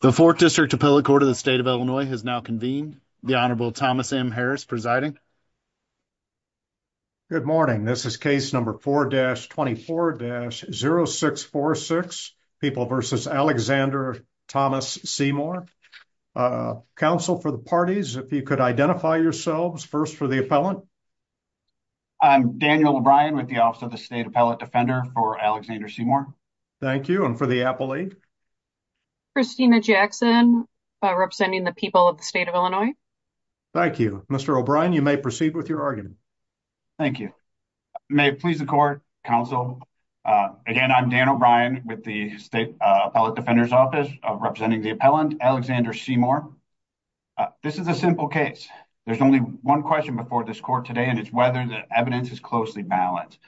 The 4th District Appellate Court of the State of Illinois has now convened. The Honorable Thomas M. Harris presiding. Good morning. This is case number 4-24-0646, People v. Alexander Thomas Seymour. Counsel for the parties, if you could identify yourselves. First for the appellant. I'm Daniel O'Brien with the Office of the State Appellate Defender for Alexander Seymour. Thank you. And for the appellate? Christina Jackson, representing the people of the State of Illinois. Thank you. Mr. O'Brien, you may proceed with your argument. Thank you. May it please the court, counsel, again, I'm Dan O'Brien with the State Appellate Defender's Office, representing the appellant, Alexander Seymour. This is a simple case. There's only one question before this court today, and it's whether the evidence is closely balanced.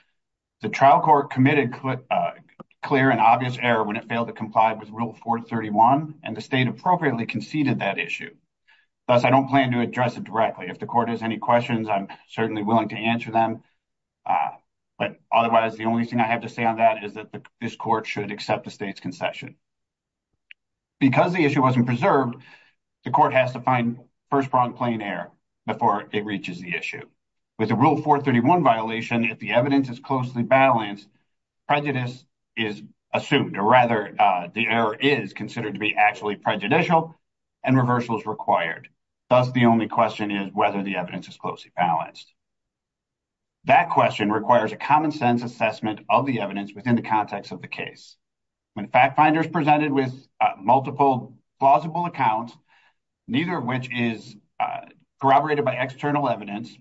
The trial court committed a clear and obvious error when it failed to comply with Rule 431, and the state appropriately conceded that issue. Thus, I don't plan to address it directly. If the court has any questions, I'm certainly willing to answer them. But otherwise, the only thing I have to say on that is that this court should accept the state's concession. Because the issue wasn't preserved, the court has to find first-pronged plain error before it reaches the issue. With the Rule 431 violation, if the evidence is closely balanced, prejudice is assumed, or rather, the error is considered to be actually prejudicial, and reversal is required. Thus, the only question is whether the evidence is closely balanced. That question requires a common-sense assessment of the evidence within the context of the case. When a fact finder is presented with multiple plausible accounts, neither of which is corroborated by external evidence,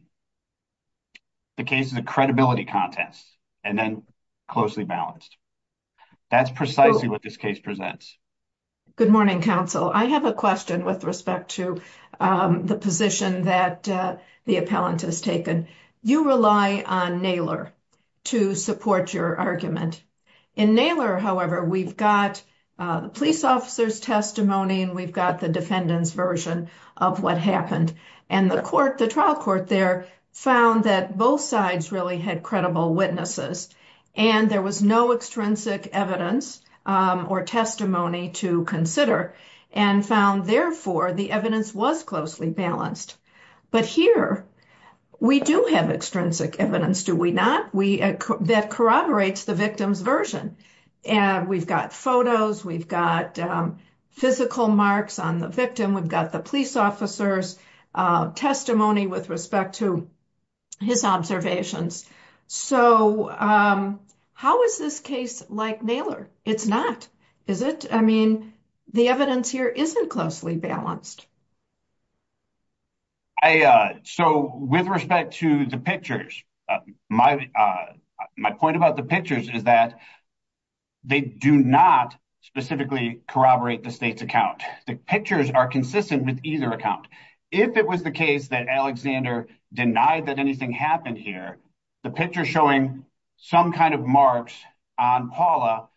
the case is a credibility contest, and then closely balanced. That's precisely what this case presents. Good morning, counsel. I have a question with respect to the position that the appellant has taken. You rely on Naylor to support your argument. In Naylor, however, we've got the police officer's testimony, and we've got the defendant's version of what happened. And the trial court there found that both sides really had credible witnesses, and there was no extrinsic evidence or testimony to consider, and found, therefore, the evidence was closely balanced. But here, we do have extrinsic evidence, do we not? That corroborates the victim's version. We've got photos. We've got physical marks on the victim. We've got the police officer's testimony with respect to his observations. So, how is this case like Naylor? It's not, is it? I mean, the evidence here isn't closely balanced. So, with respect to the pictures, my point about the pictures is that they do not specifically corroborate the state's account. The pictures are consistent with either account. If it was the case that Alexander denied that anything happened here, the picture showing some kind of marks on Paula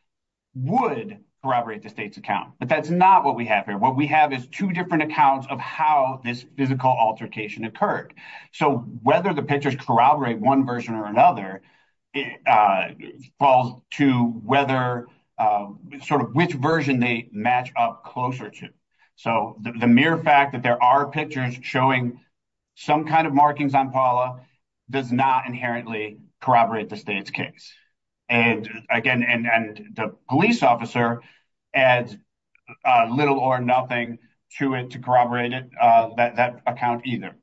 would corroborate the state's account. But that's not what we have here. What we have is two different accounts of how this physical altercation occurred. So, whether the pictures corroborate one version or another falls to whether sort of which version they match up closer to. So, the mere fact that there are pictures showing some kind of markings on Paula does not inherently corroborate the state's case. And again, the police officer adds little or nothing to it to corroborate that account either.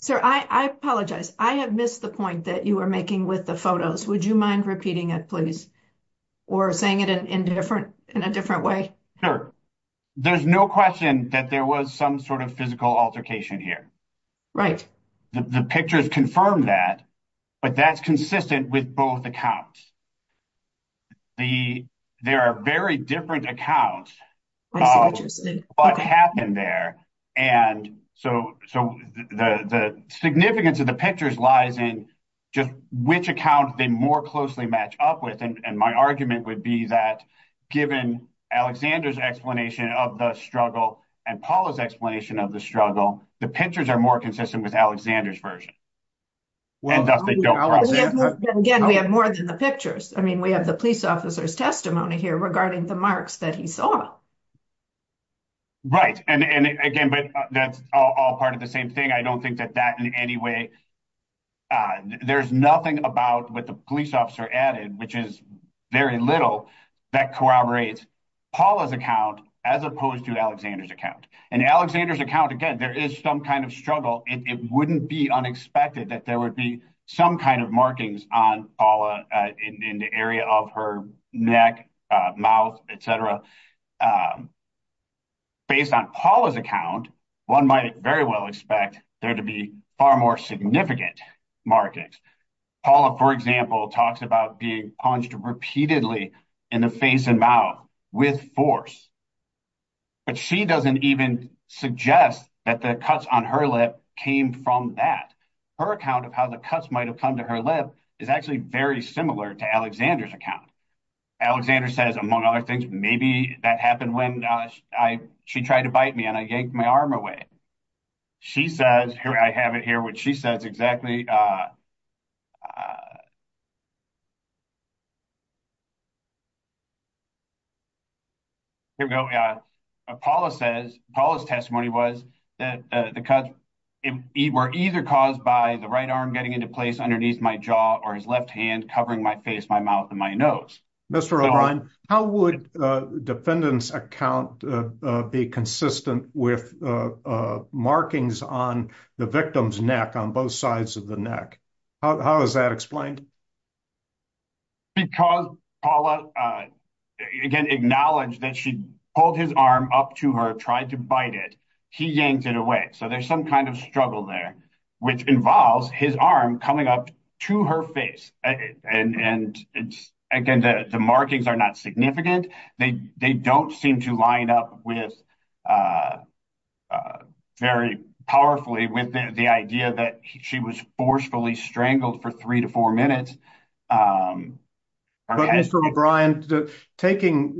Sir, I apologize. I have missed the point that you were making with the photos. Would you mind repeating it, please? Or saying it in a different way? Sure. There's no question that there was some sort of physical altercation here. Right. The pictures confirm that, but that's consistent with both accounts. There are very different accounts of what happened there. And so, the significance of the pictures lies in just which account they more closely match up with. And my argument would be that, given Alexander's explanation of the struggle and Paula's explanation of the struggle, the pictures are more consistent with Alexander's version. Again, we have more than the pictures. I mean, we have the police officer's testimony here regarding the marks that he saw. Right. And again, but that's all part of the same thing. I don't think that that in any way ‑‑ there's nothing about what the police officer added, which is very little, that corroborates Paula's account as opposed to Alexander's account. In Alexander's account, again, there is some kind of struggle. It wouldn't be unexpected that there would be some kind of markings on Paula in the area of her neck, mouth, et cetera. Based on Paula's account, one might very well expect there to be far more significant markings. Paula, for example, talks about being punched repeatedly in the face and mouth with force. But she doesn't even suggest that the cuts on her lip came from that. Her account of how the cuts might have come to her lip is actually very similar to Alexander's account. Alexander says, among other things, maybe that happened when she tried to bite me and I yanked my arm away. She says, here I have it here, what she says exactly. Here we go. Paula says, Paula's testimony was that the cuts were either caused by the right arm getting into place underneath my jaw or his left hand covering my face, my mouth, and my nose. Mr. O'Brien, how would defendant's account be consistent with markings on the victim's neck, on both sides of the neck? How is that explained? Because Paula, again, acknowledged that she pulled his arm up to her, tried to bite it. He yanked it away. So there's some kind of struggle there, which involves his arm coming up to her face. And again, the markings are not significant. They don't seem to line up very powerfully with the idea that she was forcefully strangled for three to four minutes. But Mr. O'Brien, taking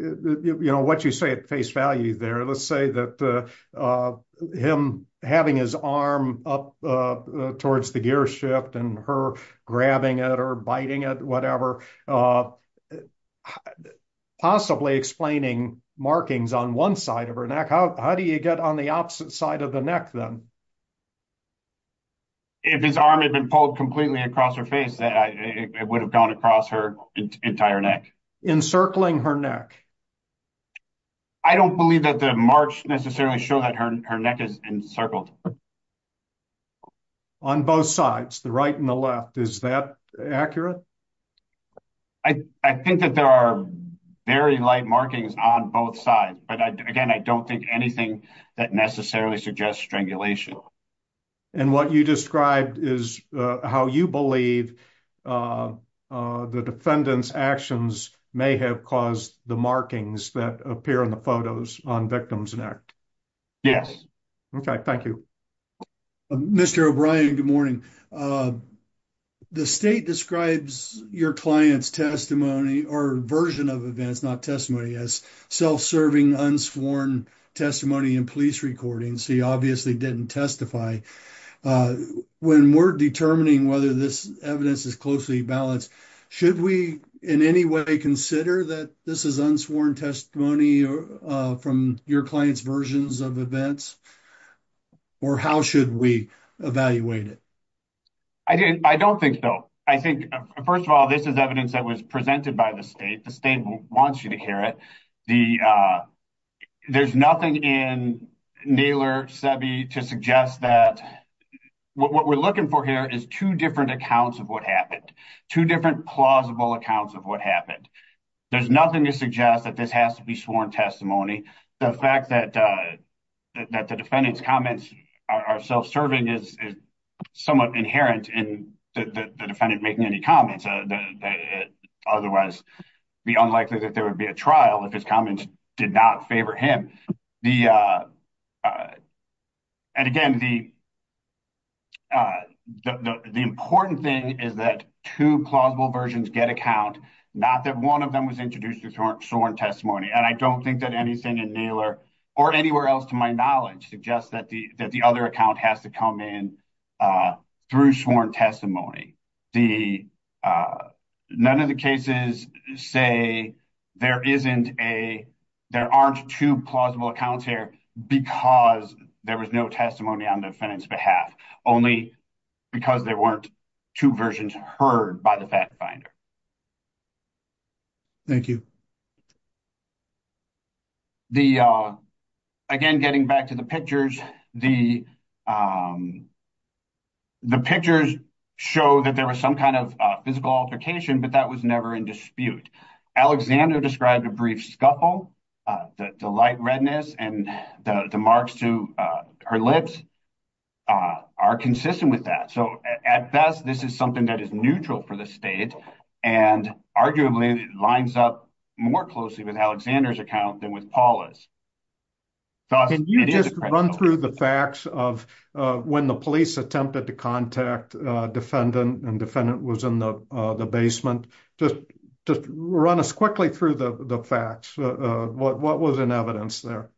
what you say at face value there, let's say that him having his arm up towards the gear shift and her grabbing it or biting it, whatever, possibly explaining markings on one side of her neck. How do you get on the opposite side of the neck then? If his arm had been pulled completely across her face, it would have gone across her entire neck. Encircling her neck. I don't believe that the marks necessarily show that her neck is encircled. On both sides, the right and the left. Is that accurate? I think that there are very light markings on both sides. But again, I don't think anything that necessarily suggests strangulation. And what you described is how you believe the defendant's actions may have caused the markings that appear in the photos on victim's neck. Yes. Okay, thank you. Mr. O'Brien, good morning. The state describes your client's testimony or version of events, not testimony, as self-serving unsworn testimony in police recordings. He obviously didn't testify. When we're determining whether this evidence is closely balanced, should we in any way consider that this is unsworn testimony from your client's versions of events? Or how should we evaluate it? I don't think so. I think, first of all, this is evidence that was presented by the state. The state wants you to hear it. There's nothing in Naylor Sebi to suggest that what we're looking for here is two different accounts of what happened. Two different plausible accounts of what happened. There's nothing to suggest that this has to be sworn testimony. The fact that the defendant's comments are self-serving is somewhat inherent in the defendant making any comments. Otherwise, it would be unlikely that there would be a trial if his comments did not favor him. And again, the important thing is that two plausible versions get a count, not that one of them was introduced as sworn testimony. And I don't think that anything in Naylor, or anywhere else to my knowledge, suggests that the other account has to come in through sworn testimony. None of the cases say there aren't two plausible accounts here because there was no testimony on the defendant's behalf. Only because there weren't two versions heard by the fact finder. Thank you. Again, getting back to the pictures, the pictures show that there was some kind of physical altercation, but that was never in dispute. Alexander described a brief scuffle. The light redness and the marks to her lips are consistent with that. So, at best, this is something that is neutral for the state and arguably lines up more closely with Alexander's account than with Paula's. Can you just run through the facts of when the police attempted to contact the defendant and the defendant was in the basement? Just run us quickly through the facts. What was in evidence there?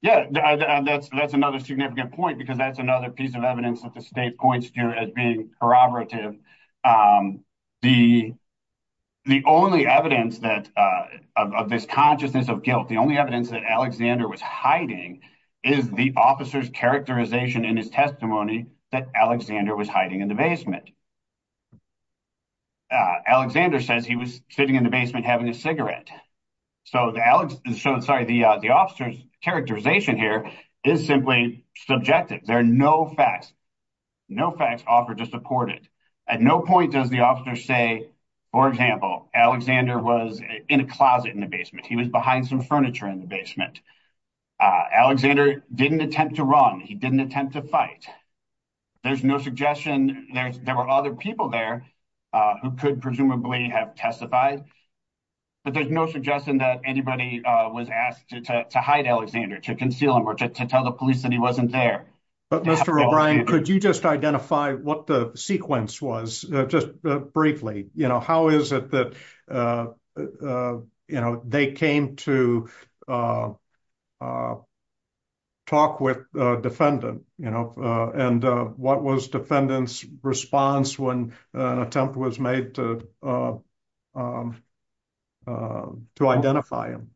Yeah, that's another significant point because that's another piece of evidence that the state points to as being corroborative. The only evidence of this consciousness of guilt, the only evidence that Alexander was hiding, is the officer's characterization in his testimony that Alexander was hiding in the basement. Alexander says he was sitting in the basement having a cigarette. So, the officer's characterization here is simply subjective. There are no facts offered to support it. At no point does the officer say, for example, Alexander was in a closet in the basement. He was behind some furniture in the basement. Alexander didn't attempt to run. He didn't attempt to fight. There's no suggestion. There were other people there who could presumably have testified. But there's no suggestion that anybody was asked to hide Alexander, to conceal him, or to tell the police that he wasn't there. Mr. O'Brien, could you just identify what the sequence was, just briefly? How is it that they came to talk with the defendant? And what was the defendant's response when an attempt was made to identify him?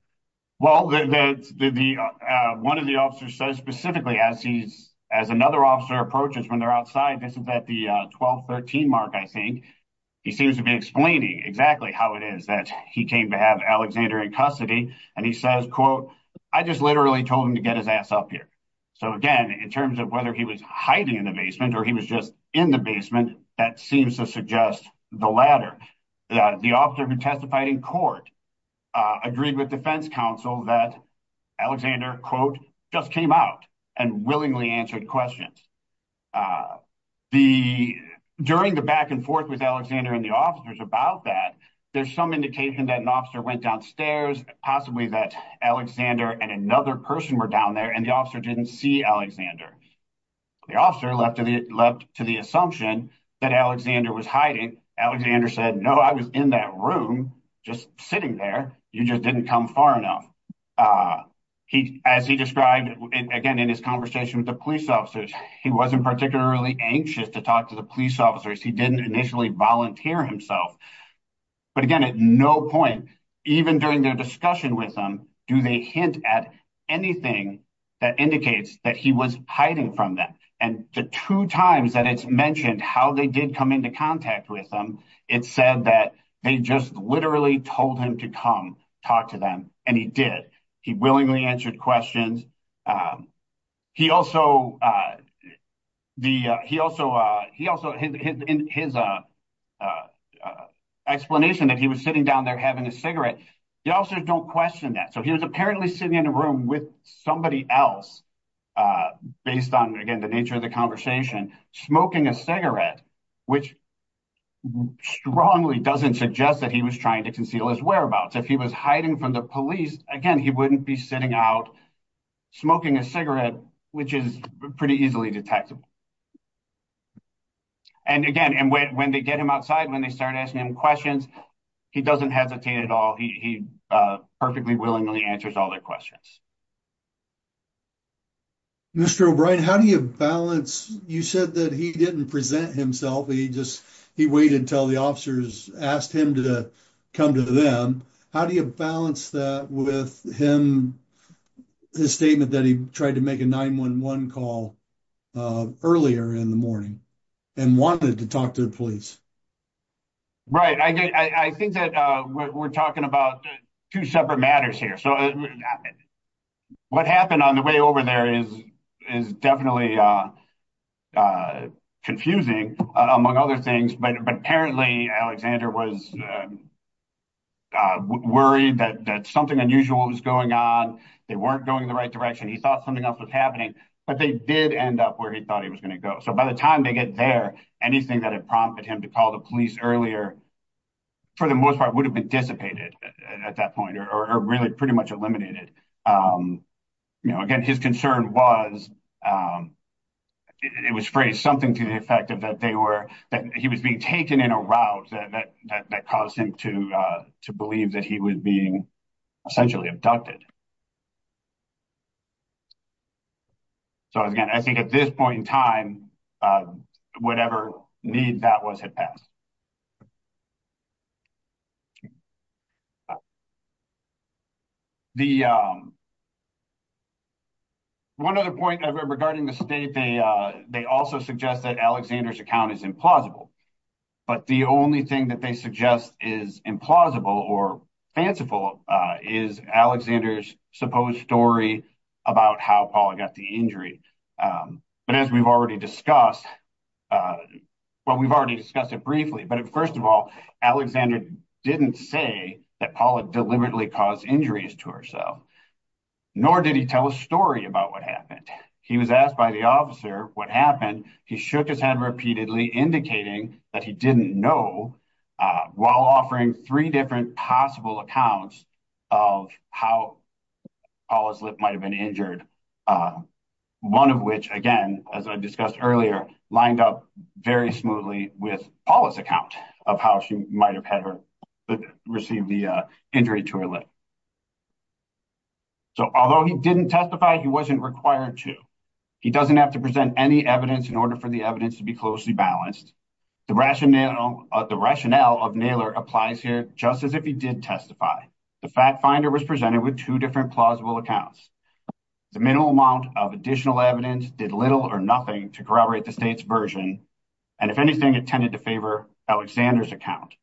Well, one of the officers says specifically, as another officer approaches when they're outside, this is at the 12-13 mark, I think. He seems to be explaining exactly how it is that he came to have Alexander in custody. And he says, quote, I just literally told him to get his ass up here. So, again, in terms of whether he was hiding in the basement or he was just in the basement, that seems to suggest the latter. The officer who testified in court agreed with defense counsel that Alexander, quote, just came out and willingly answered questions. During the back and forth with Alexander and the officers about that, there's some indication that an officer went downstairs, possibly that Alexander and another person were down there, and the officer didn't see Alexander. The officer leapt to the assumption that Alexander was hiding. Alexander said, no, I was in that room, just sitting there. You just didn't come far enough. As he described, again, in his conversation with the police officers, he wasn't particularly anxious to talk to the police officers. He didn't initially volunteer himself. But, again, at no point, even during their discussion with him, do they hint at anything that indicates that he was hiding from them. And the two times that it's mentioned how they did come into contact with him, it said that they just literally told him to come talk to them, and he did. He willingly answered questions. He also, in his explanation that he was sitting down there having a cigarette, the officers don't question that. So he was apparently sitting in a room with somebody else, based on, again, the nature of the conversation, smoking a cigarette, which strongly doesn't suggest that he was trying to conceal his whereabouts. If he was hiding from the police, again, he wouldn't be sitting out smoking a cigarette, which is pretty easily detectable. And, again, when they get him outside, when they start asking him questions, he doesn't hesitate at all. He perfectly willingly answers all their questions. Mr. O'Brien, how do you balance? You said that he didn't present himself. He waited until the officers asked him to come to them. How do you balance that with him, his statement that he tried to make a 911 call earlier in the morning and wanted to talk to the police? Right. I think that we're talking about two separate matters here. What happened on the way over there is definitely confusing, among other things, but apparently Alexander was worried that something unusual was going on. They weren't going in the right direction. He thought something else was happening, but they did end up where he thought he was going to go. So by the time they get there, anything that had prompted him to call the police earlier, for the most part, would have been dissipated at that point or really pretty much eliminated. Again, his concern was, it was phrased, something to the effect that he was being taken in a route that caused him to believe that he was being essentially abducted. So, again, I think at this point in time, whatever need that was had passed. One other point regarding the state, they also suggest that Alexander's account is implausible. But the only thing that they suggest is implausible or fanciful is Alexander's supposed story about how Paula got the injury. But as we've already discussed, well, we've already discussed it briefly, but first of all, Alexander didn't say that Paula deliberately caused injuries to herself, nor did he tell a story about what happened. He was asked by the officer what happened. He shook his head repeatedly, indicating that he didn't know, while offering three different possible accounts of how Paula's lip might have been injured. One of which, again, as I discussed earlier, lined up very smoothly with Paula's account of how she might have received the injury to her lip. So, although he didn't testify, he wasn't required to. He doesn't have to present any evidence in order for the evidence to be closely balanced. The rationale of Naylor applies here just as if he did testify. The fact finder was presented with two different plausible accounts. The minimal amount of additional evidence did little or nothing to corroborate the state's version, and if anything, it tended to favor Alexander's account.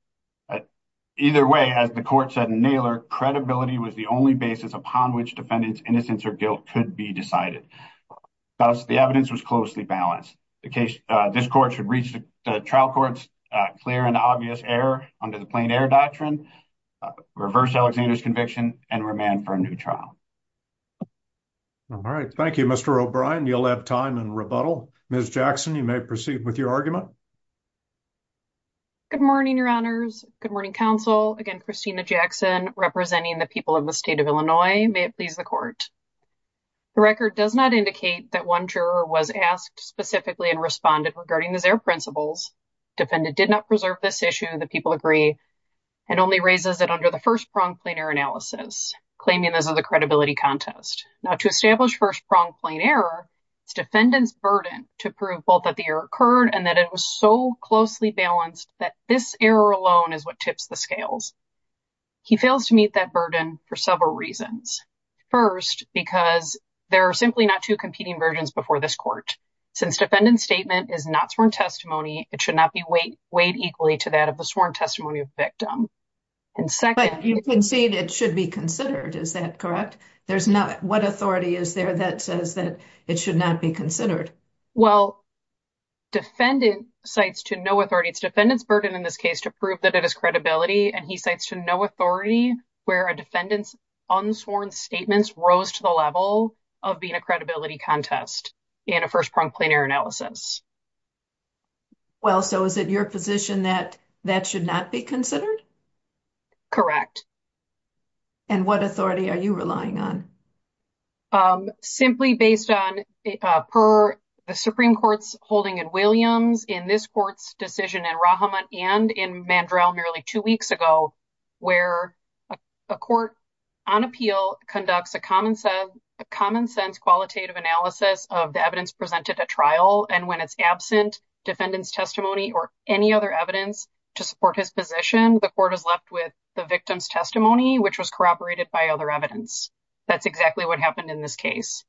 Either way, as the court said in Naylor, credibility was the only basis upon which defendant's innocence or guilt could be decided. Thus, the evidence was closely balanced. This court should reach the trial court's clear and obvious error under the plain-error doctrine, reverse Alexander's conviction, and remand for a new trial. All right. Thank you, Mr. O'Brien. You'll have time in rebuttal. Ms. Jackson, you may proceed with your argument. Good morning, Your Honors. Good morning, Counsel. Again, Christina Jackson, representing the people of the state of Illinois. May it please the court. The record does not indicate that one juror was asked specifically and responded regarding his error principles. Defendant did not preserve this issue. The people agree. It only raises it under the first-pronged plain-error analysis, claiming this is a credibility contest. Now, to establish first-pronged plain-error, it's defendant's burden to prove both that the error occurred and that it was so closely balanced that this error alone is what tips the scales. He fails to meet that burden for several reasons. First, because there are simply not two competing versions before this court. Since defendant's statement is not sworn testimony, it should not be weighed equally to that of the sworn testimony of the victim. But you concede it should be considered. Is that correct? What authority is there that says that it should not be considered? Well, defendant cites to no authority. It's defendant's burden in this case to prove that it is credibility. And he cites to no authority where a defendant's unsworn statements rose to the level of being a credibility contest in a first-pronged plain-error analysis. Well, so is it your position that that should not be considered? Correct. And what authority are you relying on? Simply based on per the Supreme Court's holding in Williams, in this court's decision in Rahamut, and in Mandrell merely two weeks ago, where a court on appeal conducts a common-sense qualitative analysis of the evidence presented at trial, and when it's absent defendant's testimony or any other evidence to support his position, the court is left with the victim's testimony, which was corroborated by other evidence. That's exactly what happened in this case.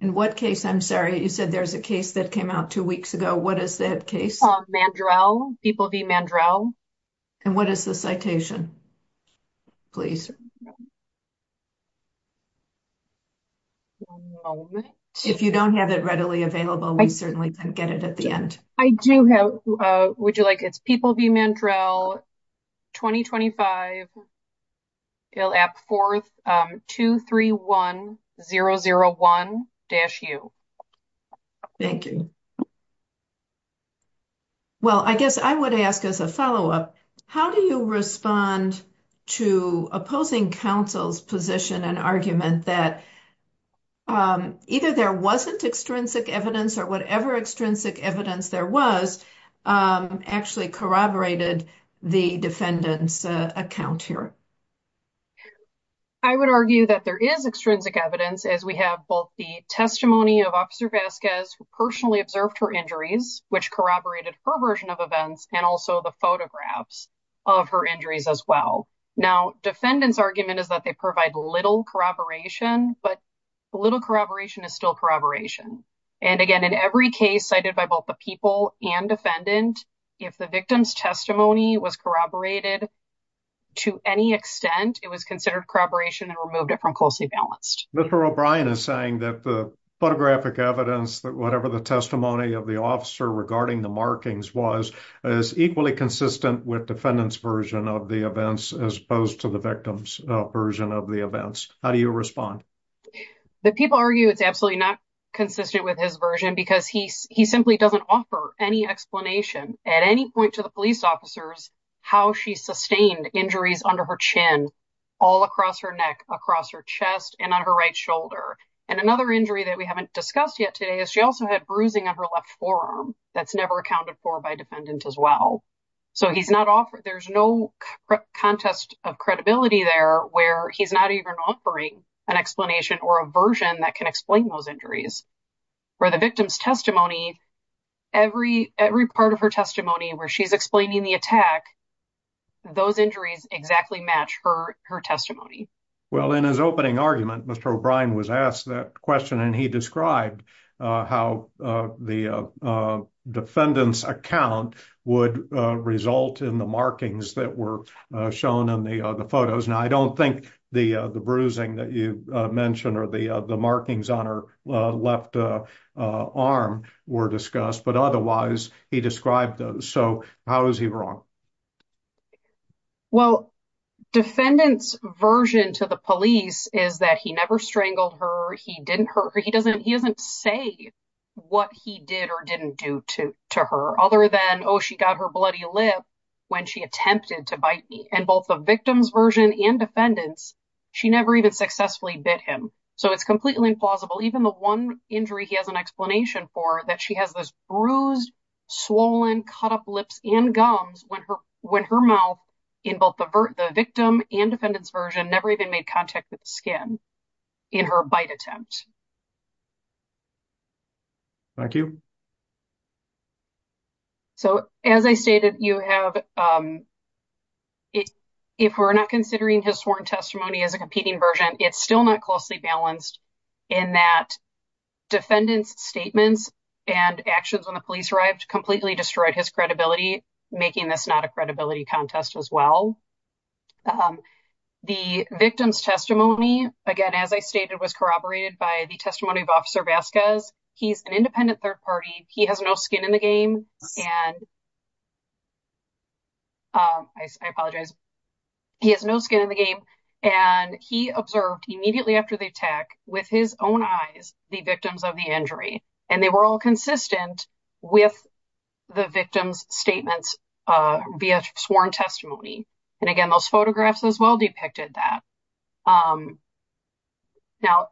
In what case? I'm sorry. You said there's a case that came out two weeks ago. What is that case? Mandrell. People v. Mandrell. And what is the citation? Please. If you don't have it readily available, we certainly can get it at the end. I do have it. Would you like it? It's People v. Mandrell, 2025. 231001-U. Thank you. Well, I guess I would ask as a follow-up, how do you respond to opposing counsel's position and argument that either there wasn't extrinsic evidence or whatever extrinsic evidence there was actually corroborated the defendant's account here? I would argue that there is extrinsic evidence, as we have both the testimony of Officer Vasquez, who personally observed her injuries, which corroborated her version of events, and also the photographs of her injuries as well. Now, defendant's argument is that they provide little corroboration, but little corroboration is still corroboration. And again, in every case cited by both the people and defendant, if the victim's testimony was corroborated to any extent, it was considered corroboration and removed it from closely balanced. Mr. O'Brien is saying that the photographic evidence, whatever the testimony of the officer regarding the markings was, is equally consistent with defendant's version of the events as opposed to the victim's version of the events. How do you respond? The people argue it's absolutely not consistent with his version because he simply doesn't offer any explanation at any point to the police officers how she sustained injuries under her chin, all across her neck, across her chest, and on her right shoulder. And another injury that we haven't discussed yet today is she also had bruising on her left forearm. That's never accounted for by defendant as well. So he's not offered, there's no contest of credibility there where he's not even offering an explanation or a version that can explain those injuries. For the victim's testimony, every part of her testimony where she's explaining the attack, those injuries exactly match her testimony. Well, in his opening argument, Mr. O'Brien was asked that question and he described how the defendant's account would result in the markings that were shown in the photos. Now, I don't think the bruising that you mentioned or the markings on her left arm were discussed, but otherwise he described those. So how is he wrong? Well, defendant's version to the police is that he never strangled her, he didn't hurt her. He doesn't say what he did or didn't do to her other than, oh, she got her bloody lip when she attempted to bite me. And both the victim's version and defendant's, she never even successfully bit him. So it's completely implausible. Even the one injury he has an explanation for, that she has this bruised, swollen, cut up lips and gums when her mouth in both the victim and defendant's version never even made contact with the skin in her bite attempt. Thank you. So as I stated, you have, if we're not considering his sworn testimony as a competing version, it's still not closely balanced in that defendant's statements and actions when the police arrived completely destroyed his credibility, making this not a credibility contest as well. The victim's testimony, again, as I stated, was corroborated by the testimony of Officer Vasquez. He's an independent third party. He has no skin in the game. I apologize. He has no skin in the game. And he observed immediately after the attack, with his own eyes, the victims of the injury. And they were all consistent with the victim's statements via sworn testimony. And again, those photographs as well depicted that. Now,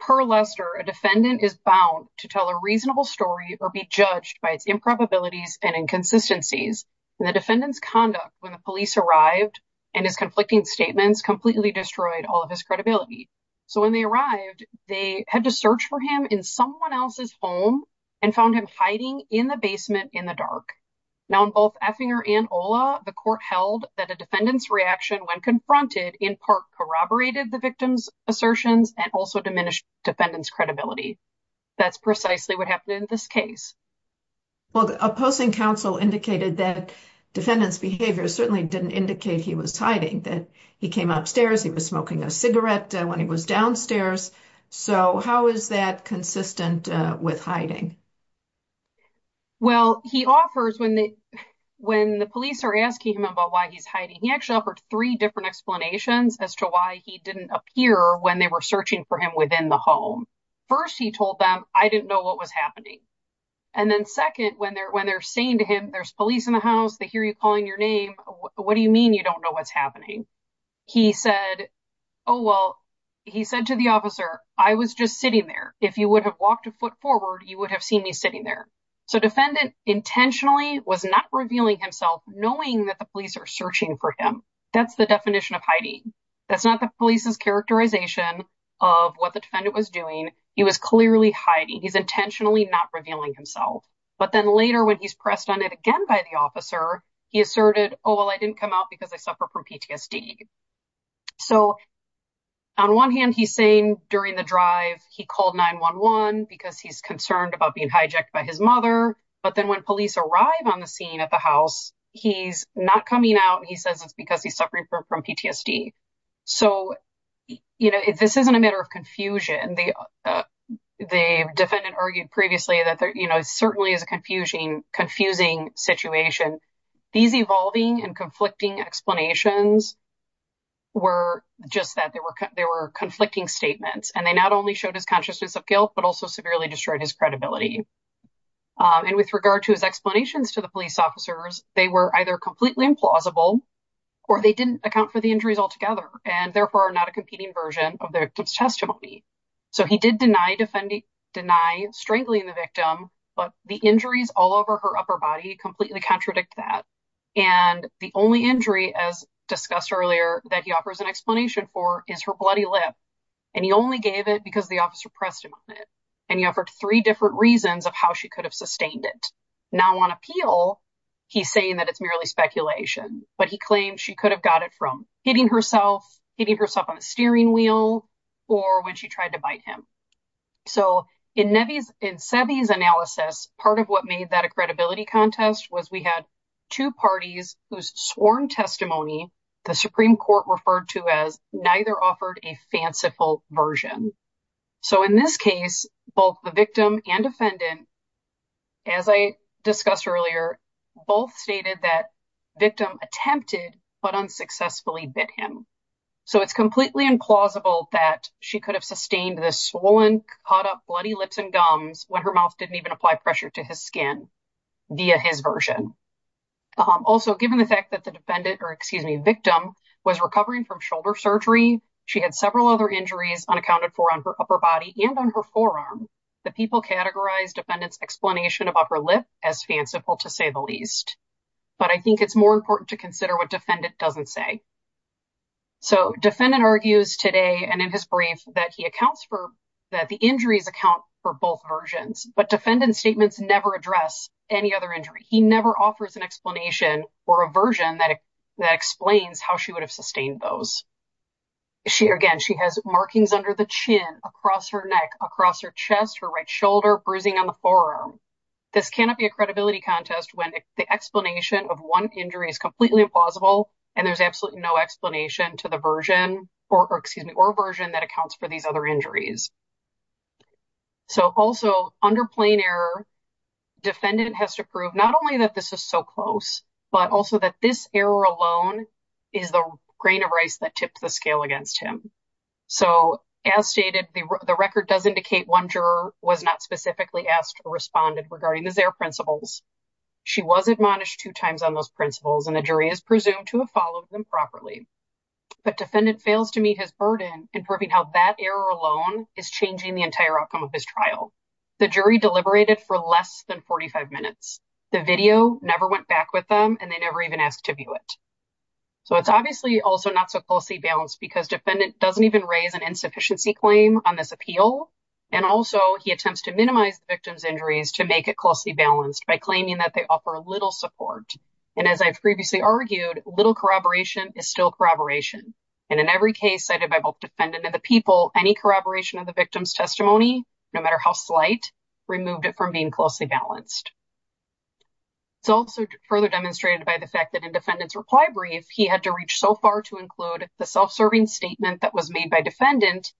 per Lester, a defendant is bound to tell a reasonable story or be judged by its improbabilities and inconsistencies. And the defendant's conduct when the police arrived and his conflicting statements completely destroyed all of his credibility. So when they arrived, they had to search for him in someone else's home and found him hiding in the basement in the dark. Now, in both Effinger and Ola, the court held that a defendant's reaction when confronted in part corroborated the victim's assertions and also diminished defendant's credibility. That's precisely what happened in this case. Well, opposing counsel indicated that defendant's behavior certainly didn't indicate he was hiding, that he came upstairs, he was smoking a cigarette when he was downstairs. So how is that consistent with hiding? Well, he offers when the police are asking him about why he's hiding, he actually offered three different explanations as to why he didn't appear when they were searching for him within the home. First, he told them, I didn't know what was happening. And then second, when they're saying to him, there's police in the house, they hear you calling your name, what do you mean you don't know what's happening? He said, oh, well, he said to the officer, I was just sitting there. If you would have walked a foot forward, you would have seen me sitting there. So defendant intentionally was not revealing himself knowing that the police are searching for him. That's the definition of hiding. That's not the police's characterization of what the defendant was doing. He was clearly hiding. He's intentionally not revealing himself. But then later, when he's pressed on it again by the officer, he asserted, oh, well, I didn't come out because I suffer from PTSD. So on one hand, he's saying during the drive, he called 9-1-1 because he's concerned about being hijacked by his mother. But then when police arrive on the scene at the house, he's not coming out. He says it's because he's suffering from PTSD. So, you know, this isn't a matter of confusion. The defendant argued previously that, you know, it certainly is a confusing situation. These evolving and conflicting explanations were just that, they were conflicting statements. And they not only showed his consciousness of guilt, but also severely destroyed his credibility. And with regard to his explanations to the police officers, they were either completely implausible or they didn't account for the injuries altogether. And therefore, not a competing version of the victim's testimony. So he did deny strangling the victim, but the injuries all over her upper body completely contradict that. And the only injury, as discussed earlier, that he offers an explanation for is her bloody lip. And he only gave it because the officer pressed him on it. And he offered three different reasons of how she could have sustained it. Now, on appeal, he's saying that it's merely speculation. But he claims she could have got it from hitting herself, hitting herself on the steering wheel, or when she tried to bite him. So in Seve's analysis, part of what made that a credibility contest was we had two parties whose sworn testimony the Supreme Court referred to as neither offered a fanciful version. So in this case, both the victim and defendant, as I discussed earlier, both stated that victim attempted but unsuccessfully bit him. So it's completely implausible that she could have sustained the swollen, caught up bloody lips and gums when her mouth didn't even apply pressure to his skin via his version. Also, given the fact that the defendant or, excuse me, victim was recovering from shoulder surgery, she had several other injuries unaccounted for on her upper body and on her forearm. The people categorized defendant's explanation of upper lip as fanciful, to say the least. But I think it's more important to consider what defendant doesn't say. So defendant argues today and in his brief that he accounts for that the injuries account for both versions. But defendant's statements never address any other injury. He never offers an explanation or a version that explains how she would have sustained those. Again, she has markings under the chin, across her neck, across her chest, her right shoulder, bruising on the forearm. This cannot be a credibility contest when the explanation of one injury is completely implausible and there's absolutely no explanation to the version or, excuse me, or version that accounts for these other injuries. So also under plain error, defendant has to prove not only that this is so close, but also that this error alone is the grain of rice that tips the scale against him. So as stated, the record does indicate one juror was not specifically asked or responded regarding his error principles. She was admonished two times on those principles and the jury is presumed to have followed them properly. But defendant fails to meet his burden in proving how that error alone is changing the entire outcome of his trial. The jury deliberated for less than 45 minutes. The video never went back with them and they never even asked to view it. So it's obviously also not so closely balanced because defendant doesn't even raise an insufficiency claim on this appeal. And also he attempts to minimize the victim's injuries to make it closely balanced by claiming that they offer a little support. And as I've previously argued, little corroboration is still corroboration. And in every case cited by both defendant and the people, any corroboration of the victim's testimony, no matter how slight, removed it from being closely balanced. It's also further demonstrated by the fact that in defendant's reply brief, he had to reach so far to include the self-serving statement that was made by defendant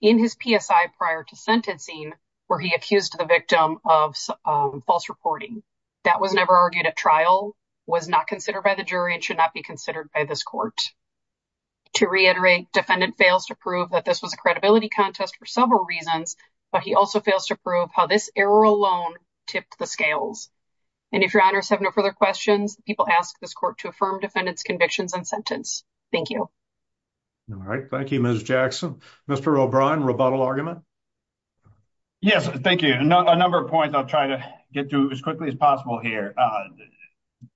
in his PSI prior to sentencing where he accused the victim of false reporting. That was never argued at trial, was not considered by the jury, and should not be considered by this court. To reiterate, defendant fails to prove that this was a credibility contest for several reasons, but he also fails to prove how this error alone tipped the scales. And if your honors have no further questions, people ask this court to affirm defendant's convictions and sentence. Thank you. All right. Thank you, Ms. Jackson. Mr. O'Brien, rebuttal argument? Yes, thank you. A number of points I'll try to get to as quickly as possible here.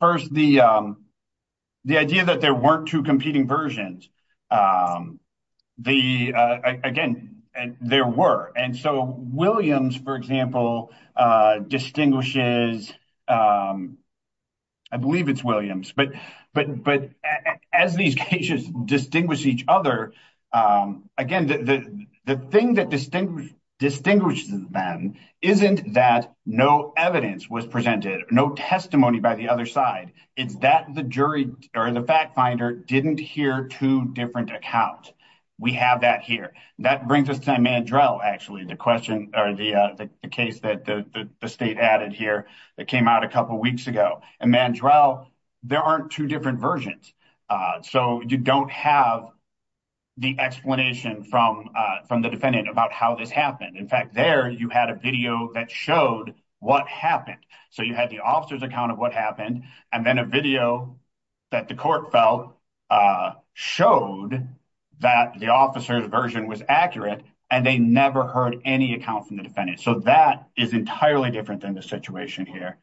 First, the idea that there weren't two competing versions, again, there were. And so Williams, for example, distinguishes – I believe it's Williams. But as these cases distinguish each other, again, the thing that distinguishes them isn't that no evidence was presented, no testimony by the other side. It's that the jury or the fact finder didn't hear two different accounts. We have that here. That brings us to Mandrell, actually, the question or the case that the state added here that came out a couple weeks ago. In Mandrell, there aren't two different versions, so you don't have the explanation from the defendant about how this happened. In fact, there you had a video that showed what happened. So you had the officer's account of what happened, and then a video that the court felt showed that the officer's version was accurate, and they never heard any account from the defendant. So that is entirely different than the situation here.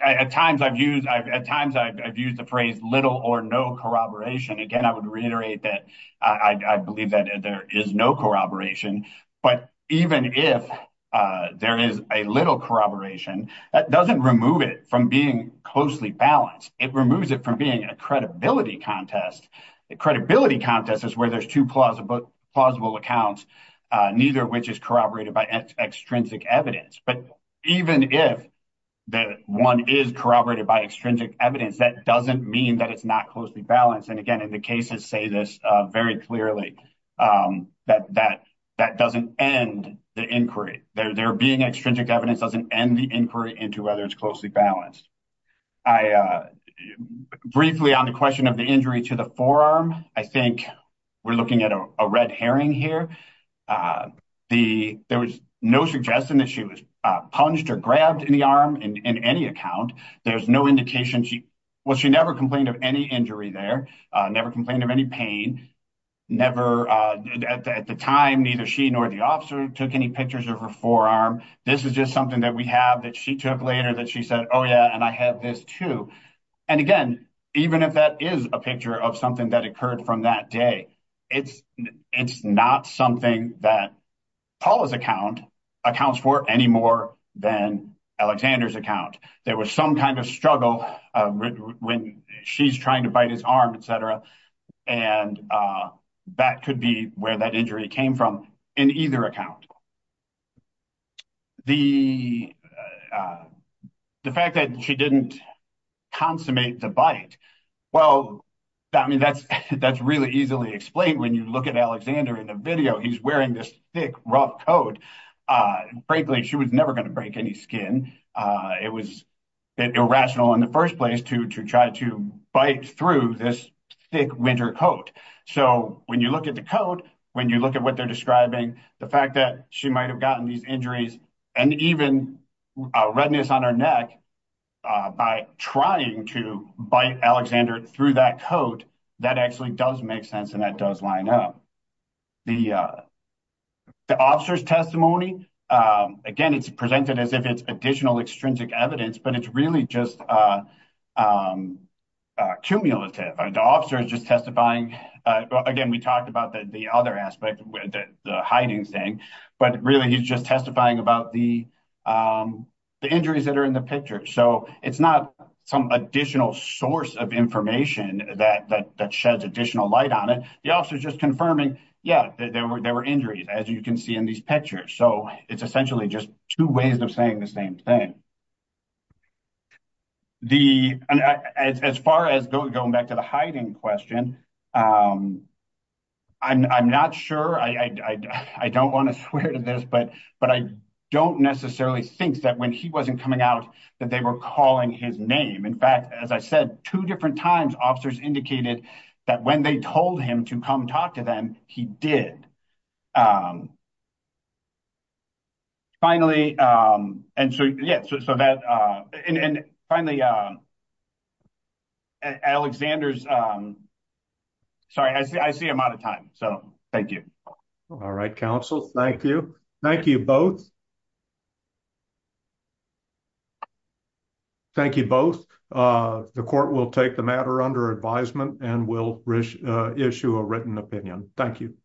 At times, I've used the phrase little or no corroboration. Again, I would reiterate that I believe that there is no corroboration. But even if there is a little corroboration, that doesn't remove it from being closely balanced. It removes it from being a credibility contest. A credibility contest is where there's two plausible accounts, neither of which is corroborated by extrinsic evidence. But even if one is corroborated by extrinsic evidence, that doesn't mean that it's not closely balanced. And again, the cases say this very clearly, that that doesn't end the inquiry. There being extrinsic evidence doesn't end the inquiry into whether it's closely balanced. Briefly on the question of the injury to the forearm, I think we're looking at a red herring here. There was no suggestion that she was punched or grabbed in the arm in any account. There's no indication she – well, she never complained of any injury there, never complained of any pain. Never – at the time, neither she nor the officer took any pictures of her forearm. This is just something that we have that she took later that she said, oh, yeah, and I have this, too. And again, even if that is a picture of something that occurred from that day, it's not something that Paula's account accounts for any more than Alexander's account. There was some kind of struggle when she's trying to bite his arm, et cetera. And that could be where that injury came from in either account. The fact that she didn't consummate the bite, well, I mean, that's really easily explained when you look at Alexander in the video. He's wearing this thick, rough coat. Frankly, she was never going to break any skin. It was a bit irrational in the first place to try to bite through this thick winter coat. So when you look at the coat, when you look at what they're describing, the fact that she might have gotten these injuries and even redness on her neck by trying to bite Alexander through that coat, that actually does make sense and that does line up. The officer's testimony, again, it's presented as if it's additional extrinsic evidence, but it's really just cumulative. The officer is just testifying. Again, we talked about the other aspect, the hiding thing, but really he's just testifying about the injuries that are in the picture. So it's not some additional source of information that sheds additional light on it. The officer's just confirming, yeah, there were injuries, as you can see in these pictures. So it's essentially just two ways of saying the same thing. As far as going back to the hiding question, I'm not sure. I don't want to swear to this, but I don't necessarily think that when he wasn't coming out that they were calling his name. In fact, as I said two different times, officers indicated that when they told him to come talk to them, he did. Finally, Alexander's, sorry, I see I'm out of time. So thank you. All right, counsel. Thank you. Thank you both. The court will take the matter under advisement and will issue a written opinion. Thank you.